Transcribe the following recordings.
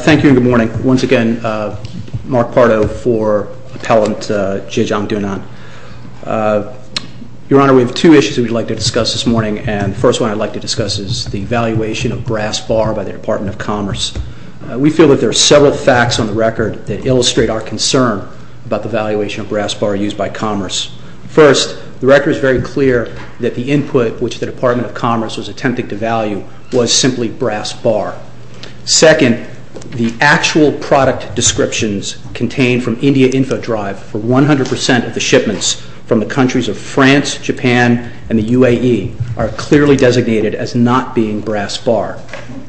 Thank you and good morning. Once again, Mark Pardo for Appellant Zhejiang Dunan. Your Honor, we have two issues that we'd like to discuss this morning, and the first one I'd like to discuss is the evaluation of Grass Bar by the Department of Commerce. We feel that there are several facts on the record that illustrate our concern about the valuation of Grass Bar used by Commerce. First, the record is very clear that the input which the Department of Commerce was attempting to value was simply Grass Bar. Second, the actual product descriptions contained from India Info Drive for 100% of the shipments from the countries of France, Japan, and the UAE are clearly designated as not being Grass Bar.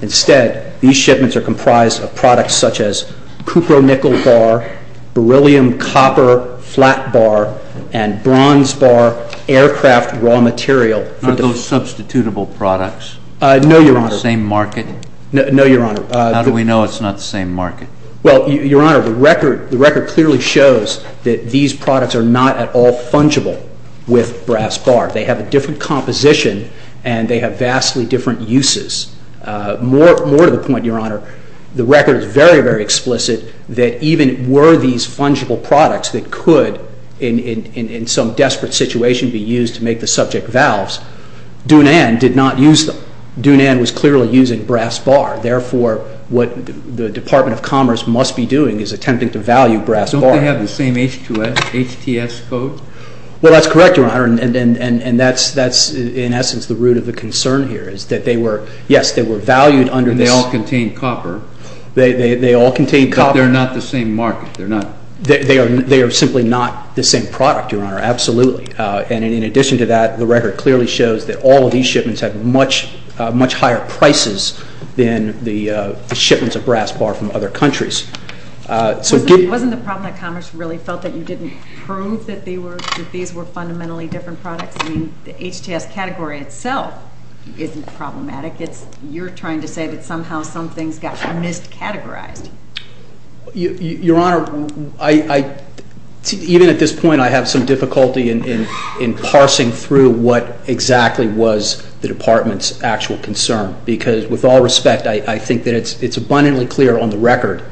Instead, these shipments are comprised of products such as cupronickel bar, beryllium copper flat bar, and bronze bar aircraft raw material. Are those substitutable products? No, Your Honor. Same market? No, Your Honor. How do we know it's not the same market? Well, Your Honor, the record clearly shows that these products are not at all fungible with Grass Bar. They have a different composition and they have vastly different uses. More to the point, Your Honor, the record is very, very explicit that even were these fungible products that could, in some desperate situation, be used to make the subject valves, Dunan did not use them. Dunan was clearly using Grass Bar. Therefore, what the Department of Commerce must be doing is attempting to value Grass Bar. Don't they have the same H2S, HTS code? Well, that's correct, Your Honor, and that's, in essence, the root of the concern here is that they were, yes, they were valued under this. And they all contain copper. They all contain copper. But they're not the same market. They're not. They are simply not the same product, Your Honor, absolutely. And in addition to that, the record clearly shows that all of these shipments have much higher prices than the shipments of Grass Bar from other countries. Wasn't the problem that Commerce really felt that you didn't prove that these were fundamentally different products? I mean, the HTS category itself isn't problematic. You're trying to say that somehow some things got miscategorized. Your Honor, even at this point, I have some difficulty in parsing through what exactly was the Department's actual concern because, with all respect, I think that it's abundantly clear on the record,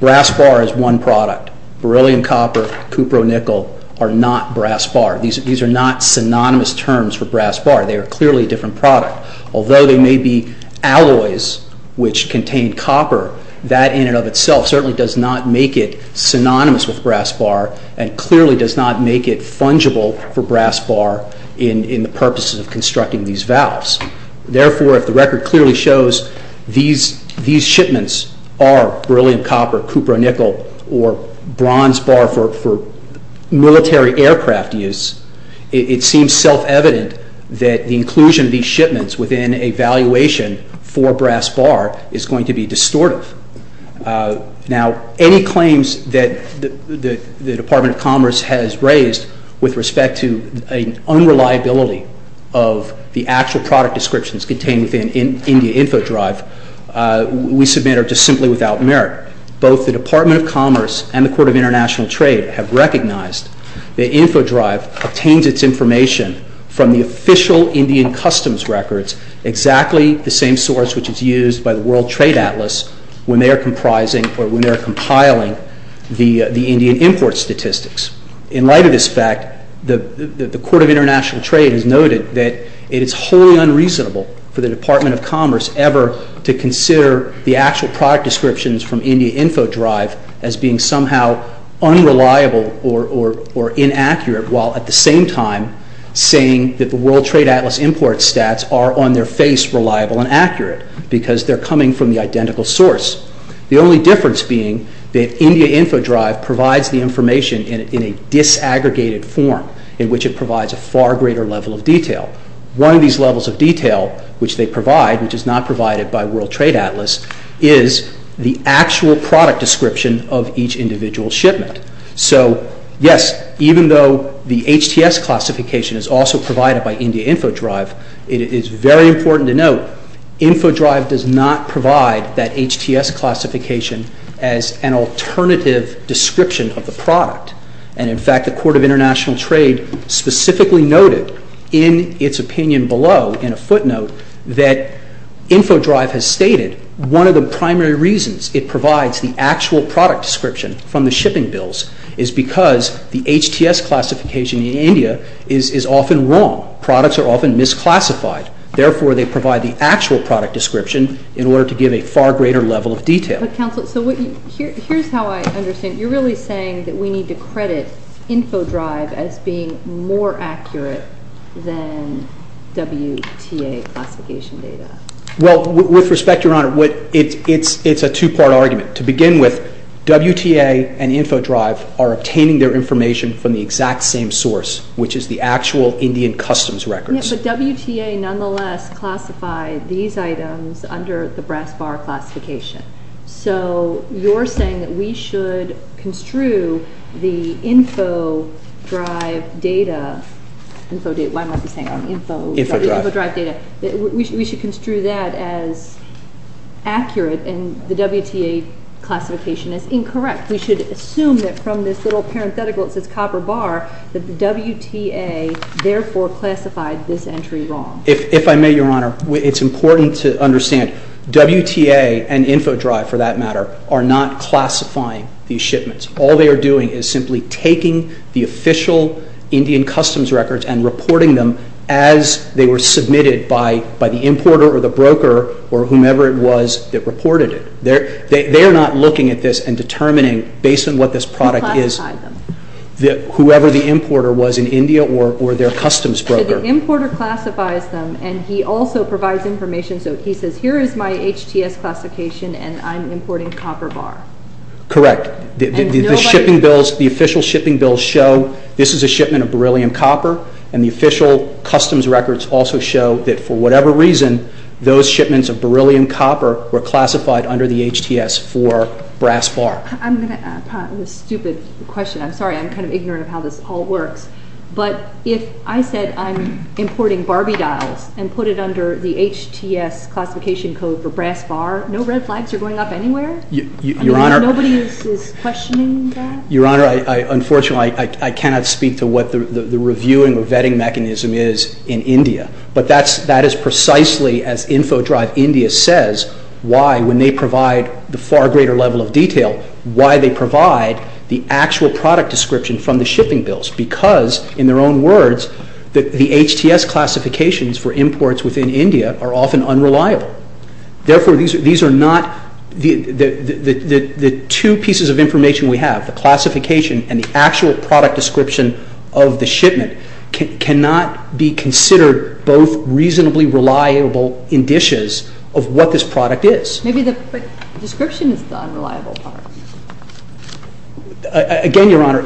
Grass Bar is one product. Beryllium copper, cupro-nickel are not Grass Bar. These are not synonymous terms for Grass Bar. They are clearly a different product. Although they may be alloys which contain copper, that in and of itself certainly does not make it synonymous with Grass Bar and clearly does not make it fungible for Grass Bar in the purposes of constructing these valves. Therefore, if the record clearly shows these shipments are beryllium copper, cupro-nickel, or bronze bar for military aircraft use, it seems self-evident that the inclusion of these shipments within a valuation for Grass Bar is going to be distortive. Now, any claims that the Department of Commerce has raised with respect to an unreliability of the actual product descriptions contained within India Info Drive, we submit are just simply without merit. Both the Department of Commerce and the Court of International Trade have recognized that Info Drive obtains its information from the official Indian customs records, exactly the same source which is used by the World Trade Atlas when they are compiling the Indian import statistics. In light of this fact, the Court of International Trade has noted that it is wholly unreasonable for the Department of Commerce ever to consider the actual product descriptions from India Info Drive as being somehow unreliable or inaccurate while at the same time saying that the World Trade Atlas import stats are on their face reliable and accurate because they are coming from the identical source. The only difference being that India Info Drive provides the information in a disaggregated form in which it provides a far greater level of detail. One of these levels of detail which they provide, which is not provided by World Trade Atlas, is the actual product description of each individual shipment. So yes, even though the HTS classification is also provided by India Info Drive, it is very important to note that Info Drive does not provide that HTS classification as an alternative description of the product. In fact, the Court of International Trade specifically noted in its opinion below in a footnote that Info Drive has stated one of the primary reasons it provides the actual product description from the shipping bills is because the HTS classification in India is often wrong. Products are often misclassified. Therefore they provide the actual product description in order to give a far greater level of detail. But Counselor, so here's how I understand it, you're really saying that we need to credit Info Drive as being more accurate than WTA classification data. Well, with respect, Your Honor, it's a two-part argument. To begin with, WTA and Info Drive are obtaining their information from the exact same source, which is the actual Indian Customs records. But WTA nonetheless classified these items under the brass bar classification. So you're saying that we should construe the Info Drive data, we should construe that as accurate and the WTA classification as incorrect. We should assume that from this little parenthetical that says copper bar that the WTA therefore classified this entry wrong. If I may, Your Honor, it's important to understand WTA and Info Drive, for that matter, are not classifying these shipments. All they are doing is simply taking the official Indian Customs records and reporting them as they were submitted by the importer or the broker or whomever it was that reported it. They are not looking at this and determining, based on what this product is, whoever the importer was in India or their customs broker. So the importer classifies them and he also provides information, so he says, here is my HTS classification and I'm importing copper bar. Correct. The shipping bills, the official shipping bills show this is a shipment of beryllium copper and the official customs records also show that for whatever reason, those shipments of beryllium copper were classified under the HTS for brass bar. I'm going to put up this stupid question. I'm sorry, I'm kind of ignorant of how this all works, but if I said I'm importing Barbie dials and put it under the HTS classification code for brass bar, no red flags are going up anywhere? Your Honor, Your Honor, unfortunately I cannot speak to what the reviewing or vetting mechanism is in India. But that is precisely as InfoDrive India says why, when they provide the far greater level of detail, why they provide the actual product description from the shipping bills, because in their own words, the HTS classifications for imports within India are often unreliable. Therefore these are not, the two pieces of information we have, the classification and the actual product description of the shipment cannot be considered both reasonably reliable indices of what this product is. Maybe the description is the unreliable part. Again Your Honor,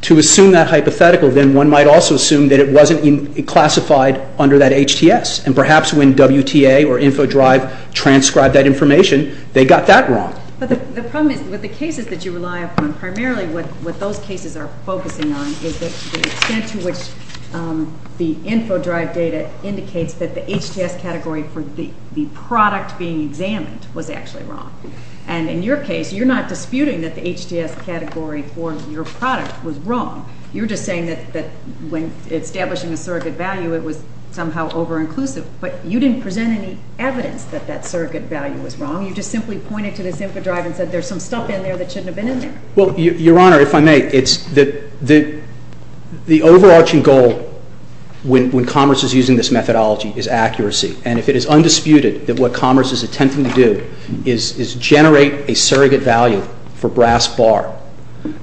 to assume that hypothetical, then one might also assume that it wasn't classified under that HTS and perhaps when WTA or InfoDrive transcribed that information, they got that wrong. But the problem is with the cases that you rely upon, primarily what those cases are focusing on is the extent to which the InfoDrive data indicates that the HTS category for the product being examined was actually wrong. And in your case, you're not disputing that the HTS category for your product was wrong. You're just saying that when establishing a surrogate value, it was somehow over-inclusive. But you didn't present any evidence that that surrogate value was wrong, you just simply pointed to this InfoDrive and said there's some stuff in there that shouldn't have been in there. Well Your Honor, if I may, it's the overarching goal when Commerce is using this methodology is accuracy. And if it is undisputed that what Commerce is attempting to do is generate a surrogate value for brass bar,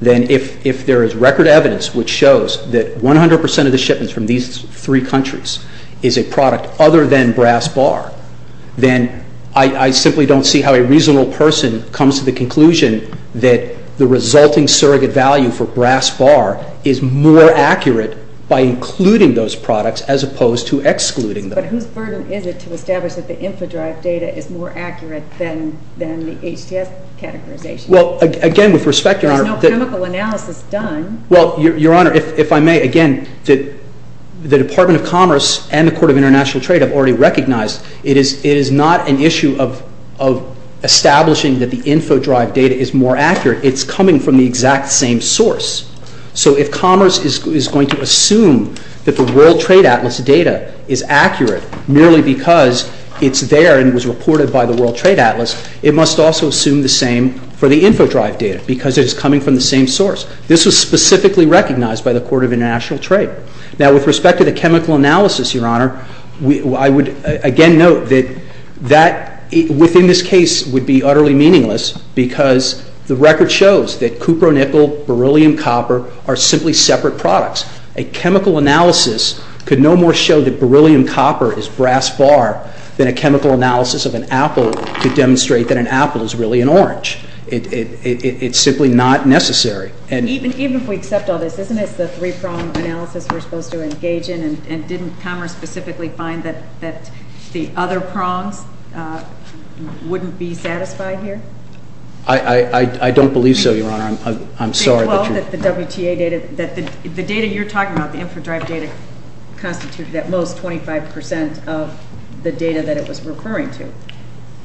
then if there is record evidence which shows that 100% of the shipments from these three countries is a product other than brass bar, then I simply don't see how a reasonable person comes to the conclusion that the resulting surrogate value for brass bar is more accurate by including those products as opposed to excluding them. But whose burden is it to establish that the InfoDrive data is more accurate than the HTS categorization? Well, again, with respect, Your Honor, there's no chemical analysis done. Well, Your Honor, if I may, again, the Department of Commerce and the Court of International Trade have already recognized it is not an issue of establishing that the InfoDrive data is more accurate. It's coming from the exact same source. So if Commerce is going to assume that the World Trade Atlas data is accurate merely because it's there and was reported by the World Trade Atlas, it must also assume the same for the InfoDrive data because it is coming from the same source. This was specifically recognized by the Court of International Trade. Now, with respect to the chemical analysis, Your Honor, I would again note that within this case would be utterly meaningless because the record shows that cupronickel, beryllium copper are simply separate products. A chemical analysis could no more show that beryllium copper is brass bar than a chemical analysis of an apple could demonstrate that an apple is really an orange. It's simply not necessary. Even if we accept all this, isn't this the three-prong analysis we're supposed to engage in and didn't Commerce specifically find that the other prongs wouldn't be satisfied here? I don't believe so, Your Honor. I'm sorry. Well, that the WTA data, the data you're talking about, the InfoDrive data, constitutes at most 25 percent of the data that it was referring to.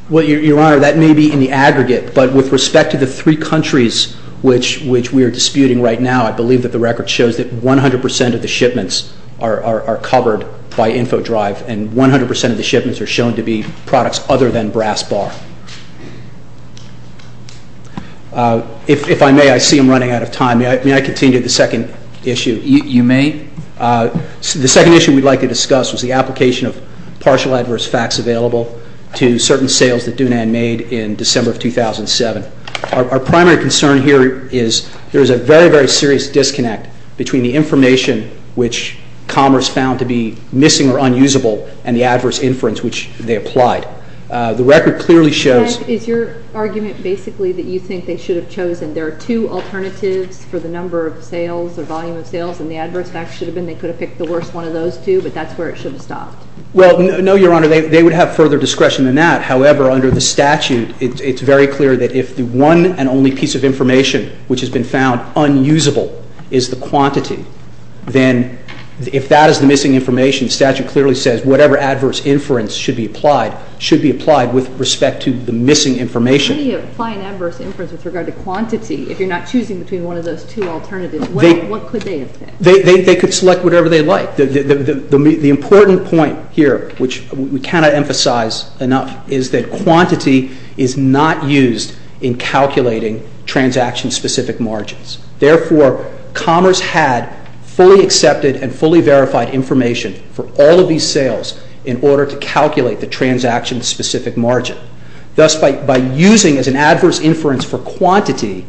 Well, Your Honor, that may be in the aggregate, but with respect to the three countries which we are disputing right now, I believe that the record shows that 100 percent of the shipments are covered by InfoDrive and 100 percent of the shipments are shown to be products other than brass bar. If I may, I see I'm running out of time. May I continue the second issue? You may. The second issue we'd like to discuss was the application of partial adverse facts available to certain sales that Dunant made in December of 2007. Our primary concern here is there is a very, very serious disconnect between the information which Commerce found to be missing or unusable and the adverse inference which they applied. The record clearly shows... And is your argument basically that you think they should have chosen, there are two alternatives for the number of sales or volume of sales and the adverse facts should have been, they could have picked the worst one of those two, but that's where it should have stopped? Well, no, Your Honor. They would have further discretion than that. However, under the statute, it's very clear that if the one and only piece of information which has been found unusable is the quantity, then if that is the missing information, the statute clearly says whatever adverse inference should be applied should be applied with respect to the missing information. If you apply an adverse inference with regard to quantity, if you're not choosing between one of those two alternatives, what could they have picked? They could select whatever they like. The important point here, which we cannot emphasize enough, is that quantity is not used in calculating transaction-specific margins. Therefore, Commerce had fully accepted and fully verified information for all of these sales in order to calculate the transaction-specific margin. Thus, by using as an adverse inference for quantity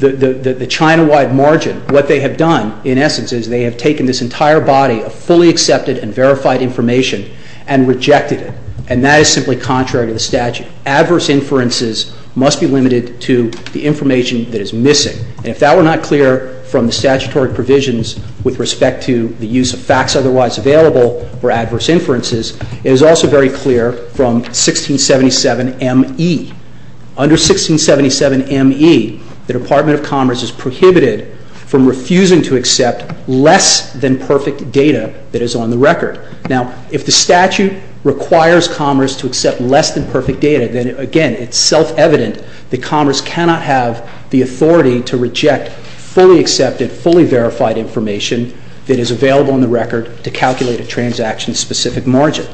the China-wide margin, what they have done, in essence, is they have taken this entire body of fully accepted and verified information and rejected it. And that is simply contrary to the statute. Adverse inferences must be limited to the information that is missing. And if that were not clear from the statutory provisions with respect to the use of facts otherwise available for adverse inferences, it is also very clear from 1677 M.E. Under 1677 M.E., the Department of Commerce is prohibited from refusing to accept less than perfect data that is on the record. Now, if the statute requires Commerce to accept less than perfect data, then again, it's self-evident that Commerce cannot have the authority to reject fully accepted, fully verified information that is available on the record to calculate a transaction-specific margin.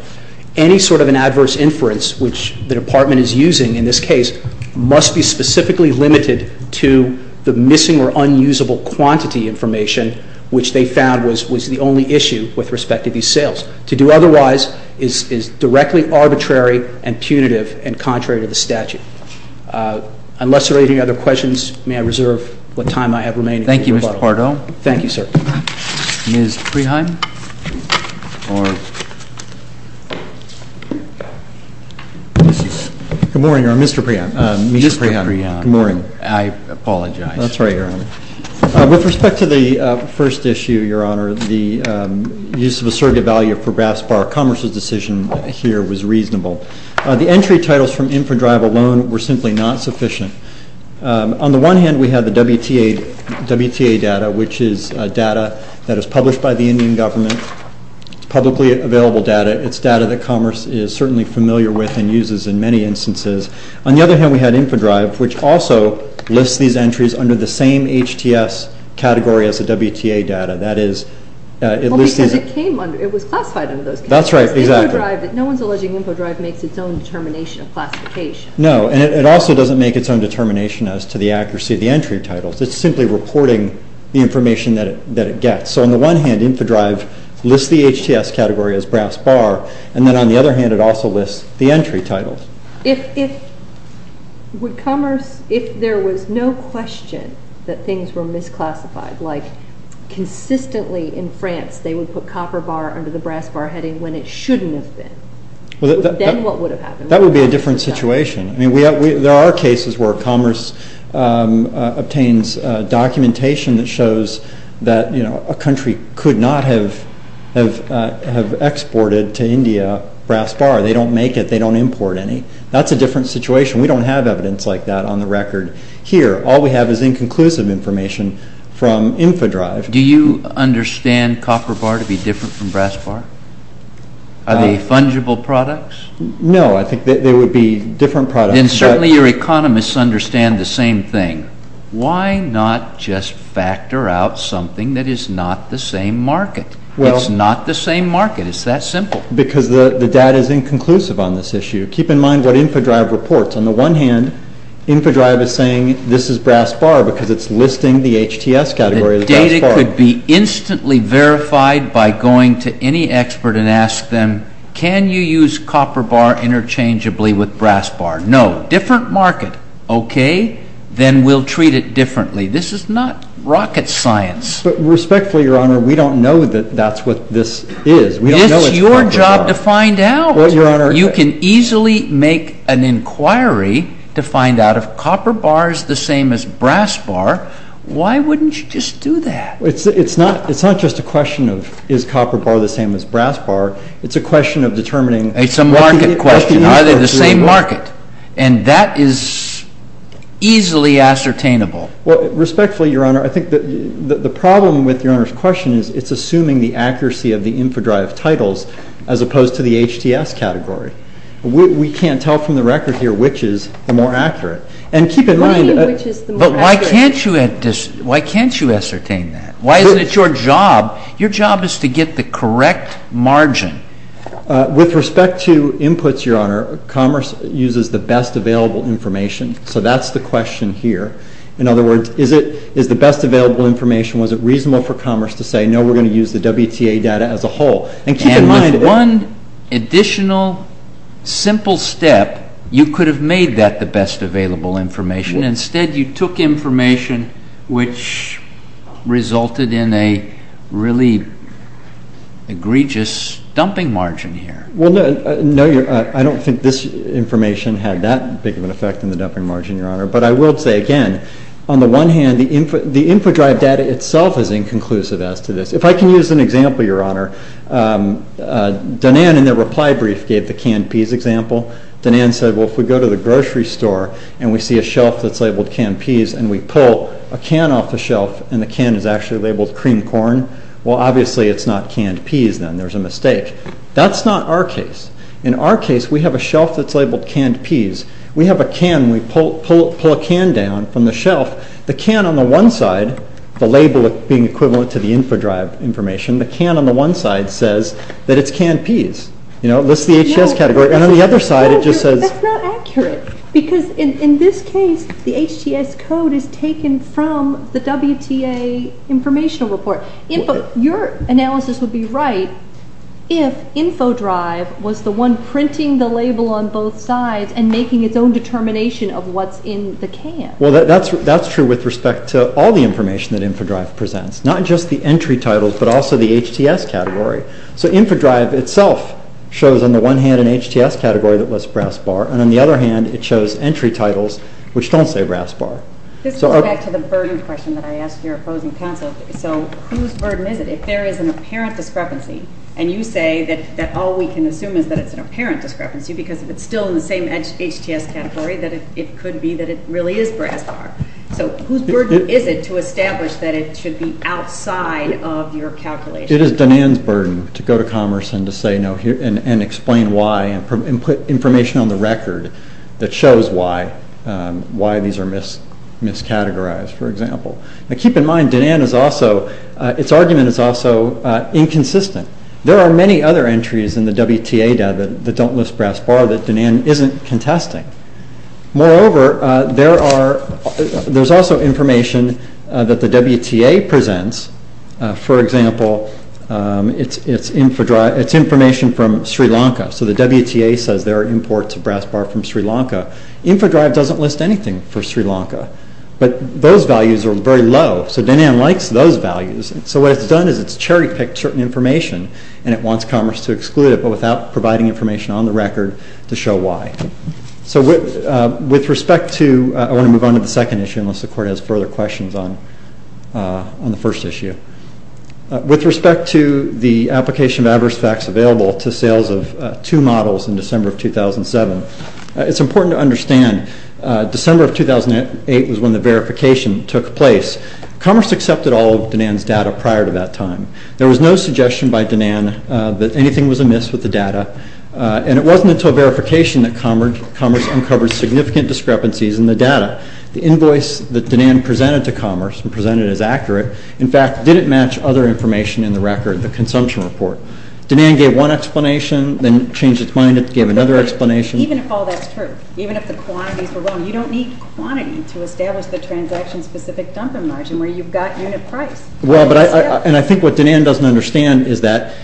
Any sort of an adverse inference, which the Department is using in this case, must be specifically limited to the missing or unusable quantity information, which they found was the only issue with respect to these sales. To do otherwise is directly arbitrary and punitive and contrary to the statute. Unless there are any other questions, may I reserve what time I have remaining for rebuttal? Thank you, Mr. Pardo. Thank you, sir. Ms. Preheim? Good morning, Your Honor. Mr. Preheim. Mr. Preheim. Good morning. I apologize. That's all right, Your Honor. With respect to the first issue, Your Honor, the use of a surrogate value for Graspar Commerce's decision here was reasonable. The entry titles from InfraDrive alone were simply not sufficient. On the one hand, we have the WTA data, which is data that is published by the Indian government, publicly available data. It's data that Commerce is certainly familiar with and uses in many instances. On the other hand, we had InfraDrive, which also lists these entries under the same HTS category as the WTA data. That is, it lists these— Well, because it came under—it was classified under those categories. That's right. Exactly. InfraDrive—no one's alleging InfraDrive makes its own determination of classification. No, and it also doesn't make its own determination as to the accuracy of the entry titles. It's simply reporting the information that it gets. So on the one hand, InfraDrive lists the HTS category as Graspar, and then on the other hand, it also lists the entry titles. If Commerce—if there was no question that things were misclassified, like consistently in France, they would put Copper Bar under the Graspar heading when it shouldn't have been. Then what would have happened? That would be a different situation. There are cases where Commerce obtains documentation that shows that a country could not have exported to India Graspar. They don't make it. They don't import any. That's a different situation. We don't have evidence like that on the record here. All we have is inconclusive information from InfraDrive. Do you understand Copper Bar to be different from Graspar? Are they fungible products? No. I think they would be different products. Then certainly your economists understand the same thing. Why not just factor out something that is not the same market? It's not the same market. It's that simple. Because the data is inconclusive on this issue. Keep in mind what InfraDrive reports. On the one hand, InfraDrive is saying this is Graspar because it's listing the HTS category as Graspar. The data could be instantly verified by going to any expert and ask them, can you use Copper Bar interchangeably with Graspar? No. Different market. Okay. Then we'll treat it differently. This is not rocket science. But respectfully, Your Honor, we don't know that that's what this is. We don't know it's Copper Bar. It's your job to find out. You can easily make an inquiry to find out if Copper Bar is the same as Graspar. Why wouldn't you just do that? It's not just a question of is Copper Bar the same as Graspar. It's a question of determining. It's a market question. Are they the same market? And that is easily ascertainable. Respectfully, Your Honor, I think the problem with Your Honor's question is it's assuming the accuracy of the InfraDrive titles as opposed to the HTS category. We can't tell from the record here which is the more accurate. And keep in mind. But why can't you ascertain that? Why isn't it your job? Your job is to get the correct margin. With respect to inputs, Your Honor, Commerce uses the best available information. So that's the question here. In other words, is it the best available information? Was it reasonable for Commerce to say, no, we're going to use the WTA data as a whole? And keep in mind. And with one additional simple step, you could have made that the best available information Instead, you took information which resulted in a really egregious dumping margin here. Well, no, I don't think this information had that big of an effect in the dumping margin, Your Honor. But I will say again, on the one hand, the InfraDrive data itself is inconclusive as to this. If I can use an example, Your Honor, Donan in the reply brief gave the canned peas example. Donan said, well, if we go to the grocery store and we see a shelf that's labeled canned peas and we pull a can off the shelf and the can is actually labeled cream corn, well, obviously it's not canned peas then. There's a mistake. That's not our case. In our case, we have a shelf that's labeled canned peas. We have a can. We pull a can down from the shelf. The can on the one side, the label being equivalent to the InfraDrive information, the can on the one side says that it's canned peas. You know, it lists the HS category. And on the other side, it just says… That's not accurate. Because in this case, the HTS code is taken from the WTA informational report. Your analysis would be right if InfraDrive was the one printing the label on both sides and making its own determination of what's in the can. Well, that's true with respect to all the information that InfraDrive presents, not just the entry titles but also the HTS category. So InfraDrive itself shows, on the one hand, an HTS category that lists brass bar, and on the other hand, it shows entry titles which don't say brass bar. This goes back to the burden question that I asked your opposing counsel. So whose burden is it if there is an apparent discrepancy, and you say that all we can assume is that it's an apparent discrepancy because if it's still in the same HTS category, that it could be that it really is brass bar. So whose burden is it to establish that it should be outside of your calculation? It is Danan's burden to go to commerce and to say no, and explain why, and put information on the record that shows why, why these are miscategorized, for example. Now keep in mind, Danan is also, its argument is also inconsistent. There are many other entries in the WTA data that don't list brass bar that Danan isn't contesting. Moreover, there's also information that the WTA presents, for example, it's information from Sri Lanka, so the WTA says there are imports of brass bar from Sri Lanka. Infodrive doesn't list anything for Sri Lanka, but those values are very low, so Danan likes those values, so what it's done is it's cherry-picked certain information, and it wants commerce to exclude it, but without providing information on the record to show why. So with respect to, I want to move on to the second issue, unless the court has further questions on the first issue. With respect to the application of adverse facts available to sales of two models in December of 2007, it's important to understand December of 2008 was when the verification took place. Commerce accepted all of Danan's data prior to that time. There was no suggestion by Danan that anything was amiss with the data, and it wasn't until verification that commerce uncovered significant discrepancies in the data. The invoice that Danan presented to commerce and presented as accurate, in fact, didn't match other information in the record, the consumption report. Danan gave one explanation, then changed his mind and gave another explanation. Even if all that's true, even if the quantities were wrong, you don't need quantity to establish the transaction-specific dumping margin where you've got unit price. And I think what Danan doesn't understand is that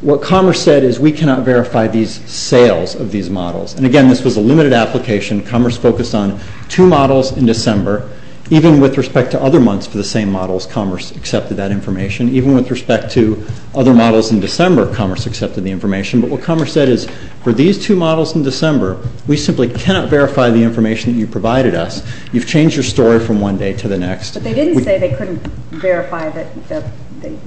what commerce said is we cannot verify these sales of these models. And again, this was a limited application. Commerce focused on two models in December. Even with respect to other months for the same models, commerce accepted that information. Even with respect to other models in December, commerce accepted the information. But what commerce said is for these two models in December, we simply cannot verify the information you provided us. You've changed your story from one day to the next. But they didn't say they couldn't verify the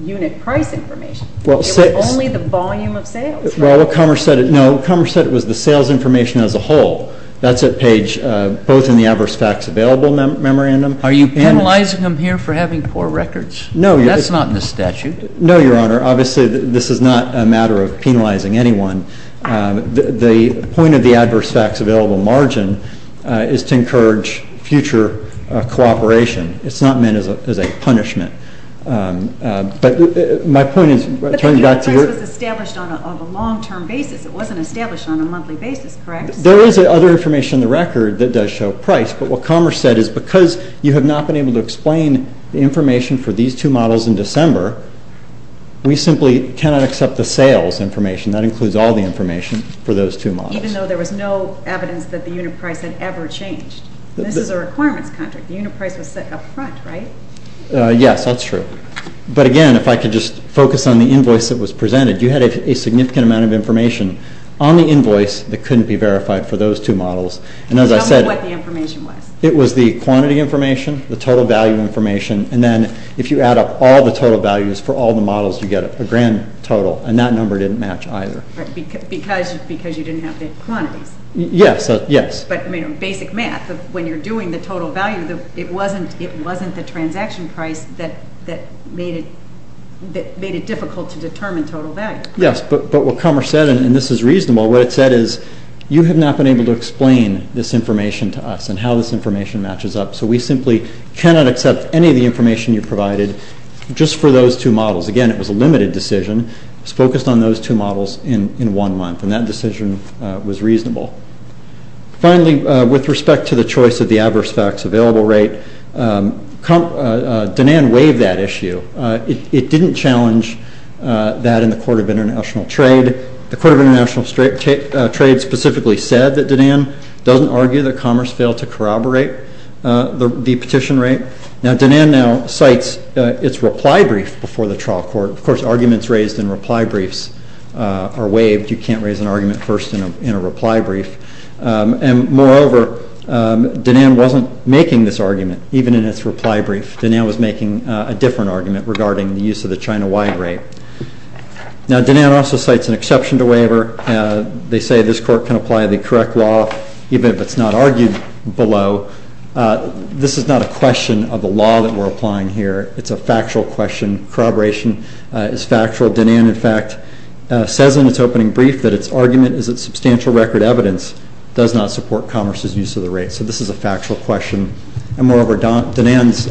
unit price information. It was only the volume of sales. Well, what commerce said, no, commerce said it was the sales information as a whole. That's at page, both in the adverse facts available memorandum. Are you penalizing them here for having poor records? No, Your Honor. That's not in the statute. No, Your Honor. Obviously, this is not a matter of penalizing anyone. The point of the adverse facts available margin is to encourage future cooperation. It's not meant as a punishment. But my point is, turning back to your- This was established on a long-term basis. It wasn't established on a monthly basis, correct? There is other information in the record that does show price. But what commerce said is because you have not been able to explain the information for these two models in December, we simply cannot accept the sales information. That includes all the information for those two models. Even though there was no evidence that the unit price had ever changed. This is a requirements contract. The unit price was set up front, right? Yes, that's true. But again, if I could just focus on the invoice that was presented, you had a significant amount of information on the invoice that couldn't be verified for those two models. And as I said- Tell me what the information was. It was the quantity information, the total value information, and then if you add up all the total values for all the models, you get a grand total. And that number didn't match either. Because you didn't have the quantities. Yes. Yes. But I mean, basic math, when you're doing the total value, it wasn't the transaction price that made it difficult to determine total value. Yes. But what commerce said, and this is reasonable, what it said is you have not been able to explain this information to us and how this information matches up. So we simply cannot accept any of the information you provided just for those two models. Again, it was a limited decision. It was focused on those two models in one month. And that decision was reasonable. Finally, with respect to the choice of the adverse facts available rate, Danan waived that issue. It didn't challenge that in the Court of International Trade. The Court of International Trade specifically said that Danan doesn't argue that commerce failed to corroborate the petition rate. Now Danan now cites its reply brief before the trial court. Of course, arguments raised in reply briefs are waived. You can't raise an argument first in a reply brief. And moreover, Danan wasn't making this argument, even in its reply brief. Danan was making a different argument regarding the use of the China Y rate. Now Danan also cites an exception to waiver. They say this court can apply the correct law, even if it's not argued below. This is not a question of the law that we're applying here. It's a factual question. Corroboration is factual. Danan, in fact, says in its opening brief that its argument is that substantial record evidence does not support commerce's use of the rate. So this is a factual question. And moreover, Danan's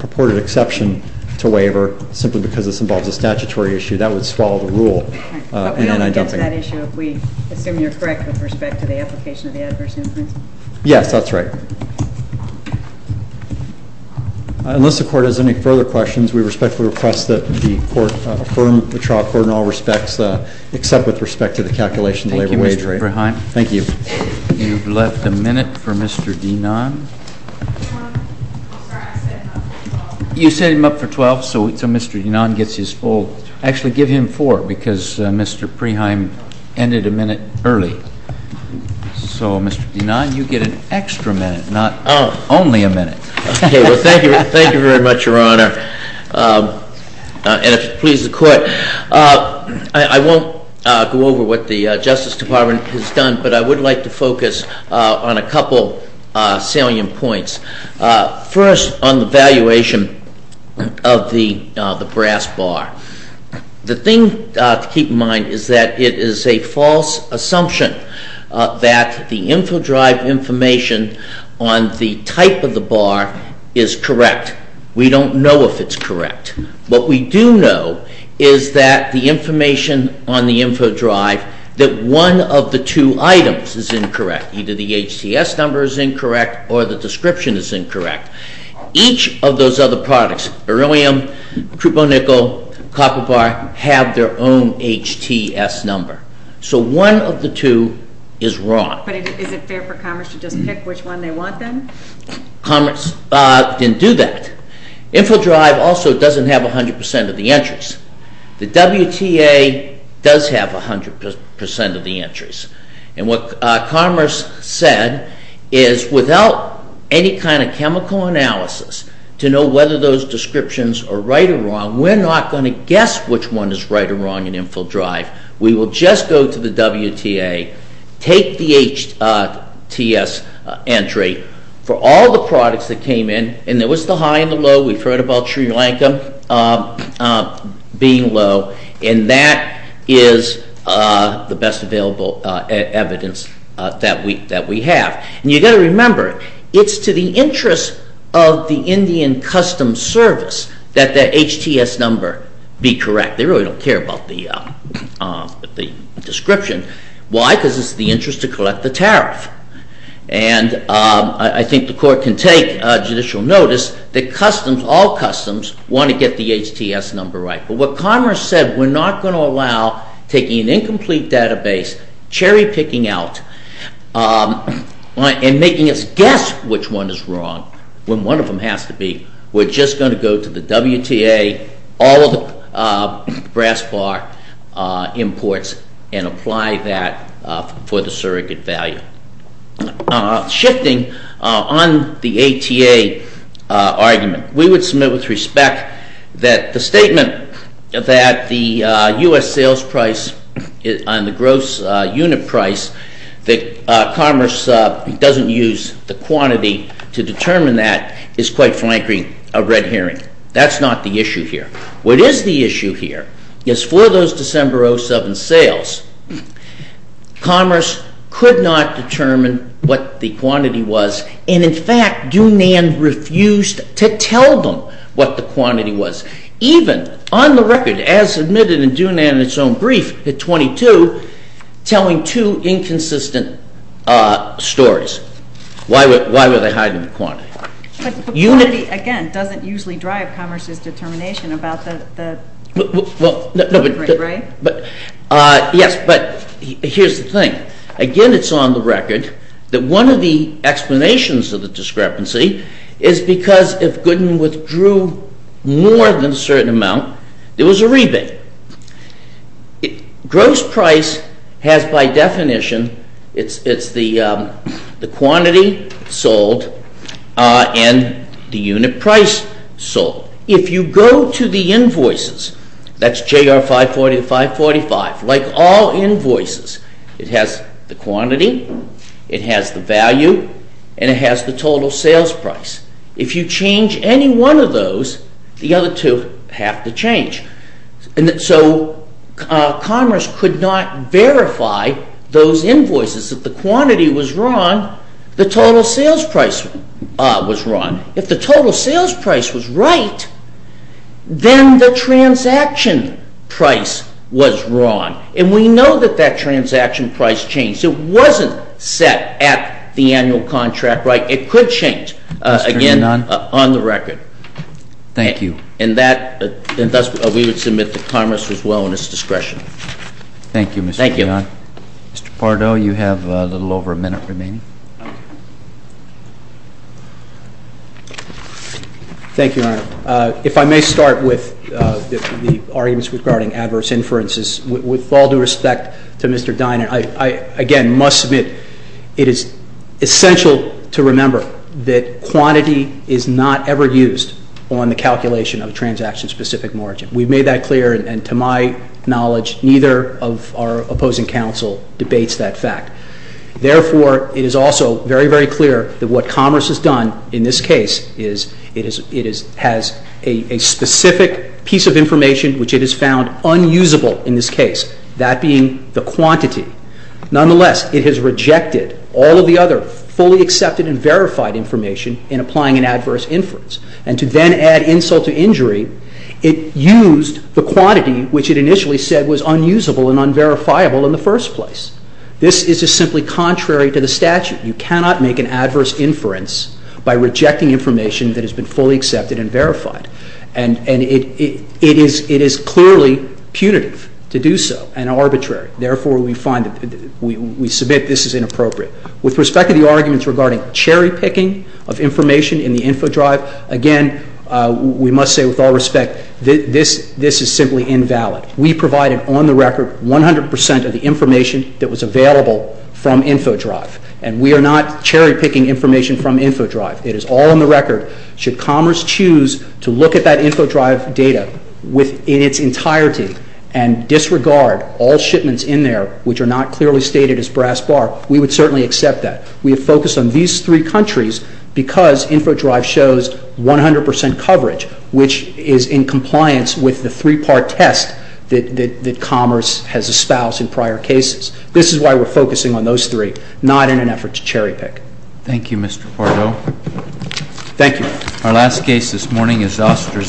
purported exception to waiver, simply because this involves a statutory issue, that would swallow the rule. But we don't want to get to that issue if we assume you're correct with respect to the application of the adverse influence? Yes, that's right. Unless the court has any further questions, we respectfully request that the court affirm the trial court in all respects, except with respect to the calculation of the labor wage rate. Thank you, Mr. Preheim. Thank you. You've left a minute for Mr. Denan. Sorry, I set him up for 12. You set him up for 12, so Mr. Denan gets his full. Actually give him four, because Mr. Preheim ended a minute early. So Mr. Denan, you get an extra minute, not only a minute. Thank you very much, Your Honor. And if it pleases the court, I won't go over what the Justice Department has done, but I would like to focus on a couple salient points. First, on the valuation of the brass bar. The thing to keep in mind is that it is a false assumption that the infodrive information on the type of the bar is correct. We don't know if it's correct. What we do know is that the information on the infodrive, that one of the two items is incorrect, either the HTS number is incorrect or the description is incorrect. Each of those other products, beryllium, cuponickel, copper bar, have their own HTS number. So one of the two is wrong. But is it fair for Commerce to just pick which one they want then? Commerce didn't do that. Infodrive also doesn't have 100% of the entries. The WTA does have 100% of the entries. And what Commerce said is without any kind of chemical analysis to know whether those descriptions are right or wrong, we're not going to guess which one is right or wrong in infodrive. We will just go to the WTA, take the HTS entry for all the products that came in, and there was the high and the low. We've heard about Sri Lanka being low. And that is the best available evidence that we have. And you've got to remember, it's to the interest of the Indian Custom Service that the HTS number be correct. They really don't care about the description. Why? Because it's in the interest to collect the tariff. And I think the Court can take judicial notice that customs, all customs, want to get the HTS number right. But what Commerce said, we're not going to allow taking an incomplete database, cherry picking out, and making us guess which one is wrong when one of them has to be. We're just going to go to the WTA, all of the brass bar imports, and apply that for the surrogate value. Shifting on the ATA argument, we would submit with respect that the statement that the U.S. sales price on the gross unit price, that Commerce doesn't use the quantity to determine that, is quite frankly a red herring. That's not the issue here. What is the issue here is for those December 07 sales, Commerce could not determine what the quantity was. And in fact, Dunand refused to tell them what the quantity was. Even on the record, as admitted in Dunand in its own brief at 22, telling two inconsistent stories. Why were they hiding the quantity? The quantity, again, doesn't usually drive Commerce's determination about the rate, right? Yes, but here's the thing. Again, it's on the record that one of the explanations of the discrepancy is because if Gooden withdrew more than a certain amount, there was a rebate. Gross price has, by definition, it's the quantity sold and the unit price sold. If you go to the invoices, that's JR 540 to 545, like all invoices, it has the quantity, it has the value, and it has the total sales price. If you change any one of those, the other two have to change. So Commerce could not verify those invoices. If the quantity was wrong, the total sales price was wrong. If the total sales price was right, then the transaction price was wrong. And we know that that transaction price changed. It wasn't set at the annual contract, right? It could change, again, on the record. Thank you. And thus, we would submit to Commerce as well in its discretion. Thank you, Mr. Dionne. Thank you. Mr. Pardo, you have a little over a minute remaining. Thank you, Your Honor. If I may start with the arguments regarding adverse inferences. With all due respect to Mr. Dinan, I, again, must submit it is essential to remember that the quantity is not ever used on the calculation of a transaction-specific margin. We've made that clear, and to my knowledge, neither of our opposing counsel debates that fact. Therefore, it is also very, very clear that what Commerce has done in this case is it has a specific piece of information which it has found unusable in this case, that being the quantity. Nonetheless, it has rejected all of the other fully accepted and verified information in applying an adverse inference. And to then add insult to injury, it used the quantity which it initially said was unusable and unverifiable in the first place. This is just simply contrary to the statute. You cannot make an adverse inference by rejecting information that has been fully accepted and verified. And it is clearly punitive to do so and arbitrary. Therefore, we submit this is inappropriate. With respect to the arguments regarding cherry-picking of information in the infodrive, again, we must say with all respect this is simply invalid. We provided on the record 100 percent of the information that was available from infodrive, and we are not cherry-picking information from infodrive. It is all on the record. Should Commerce choose to look at that infodrive data in its entirety and disregard all shipments in there which are not clearly stated as brass bar, we would certainly accept that. We have focused on these three countries because infodrive shows 100 percent coverage, which is in compliance with the three-part test that Commerce has espoused in prior cases. This is why we are focusing on those three, not in an effort to cherry-pick. Thank you, Mr. Pardo. Thank you. Our last case this morning is Zoster's.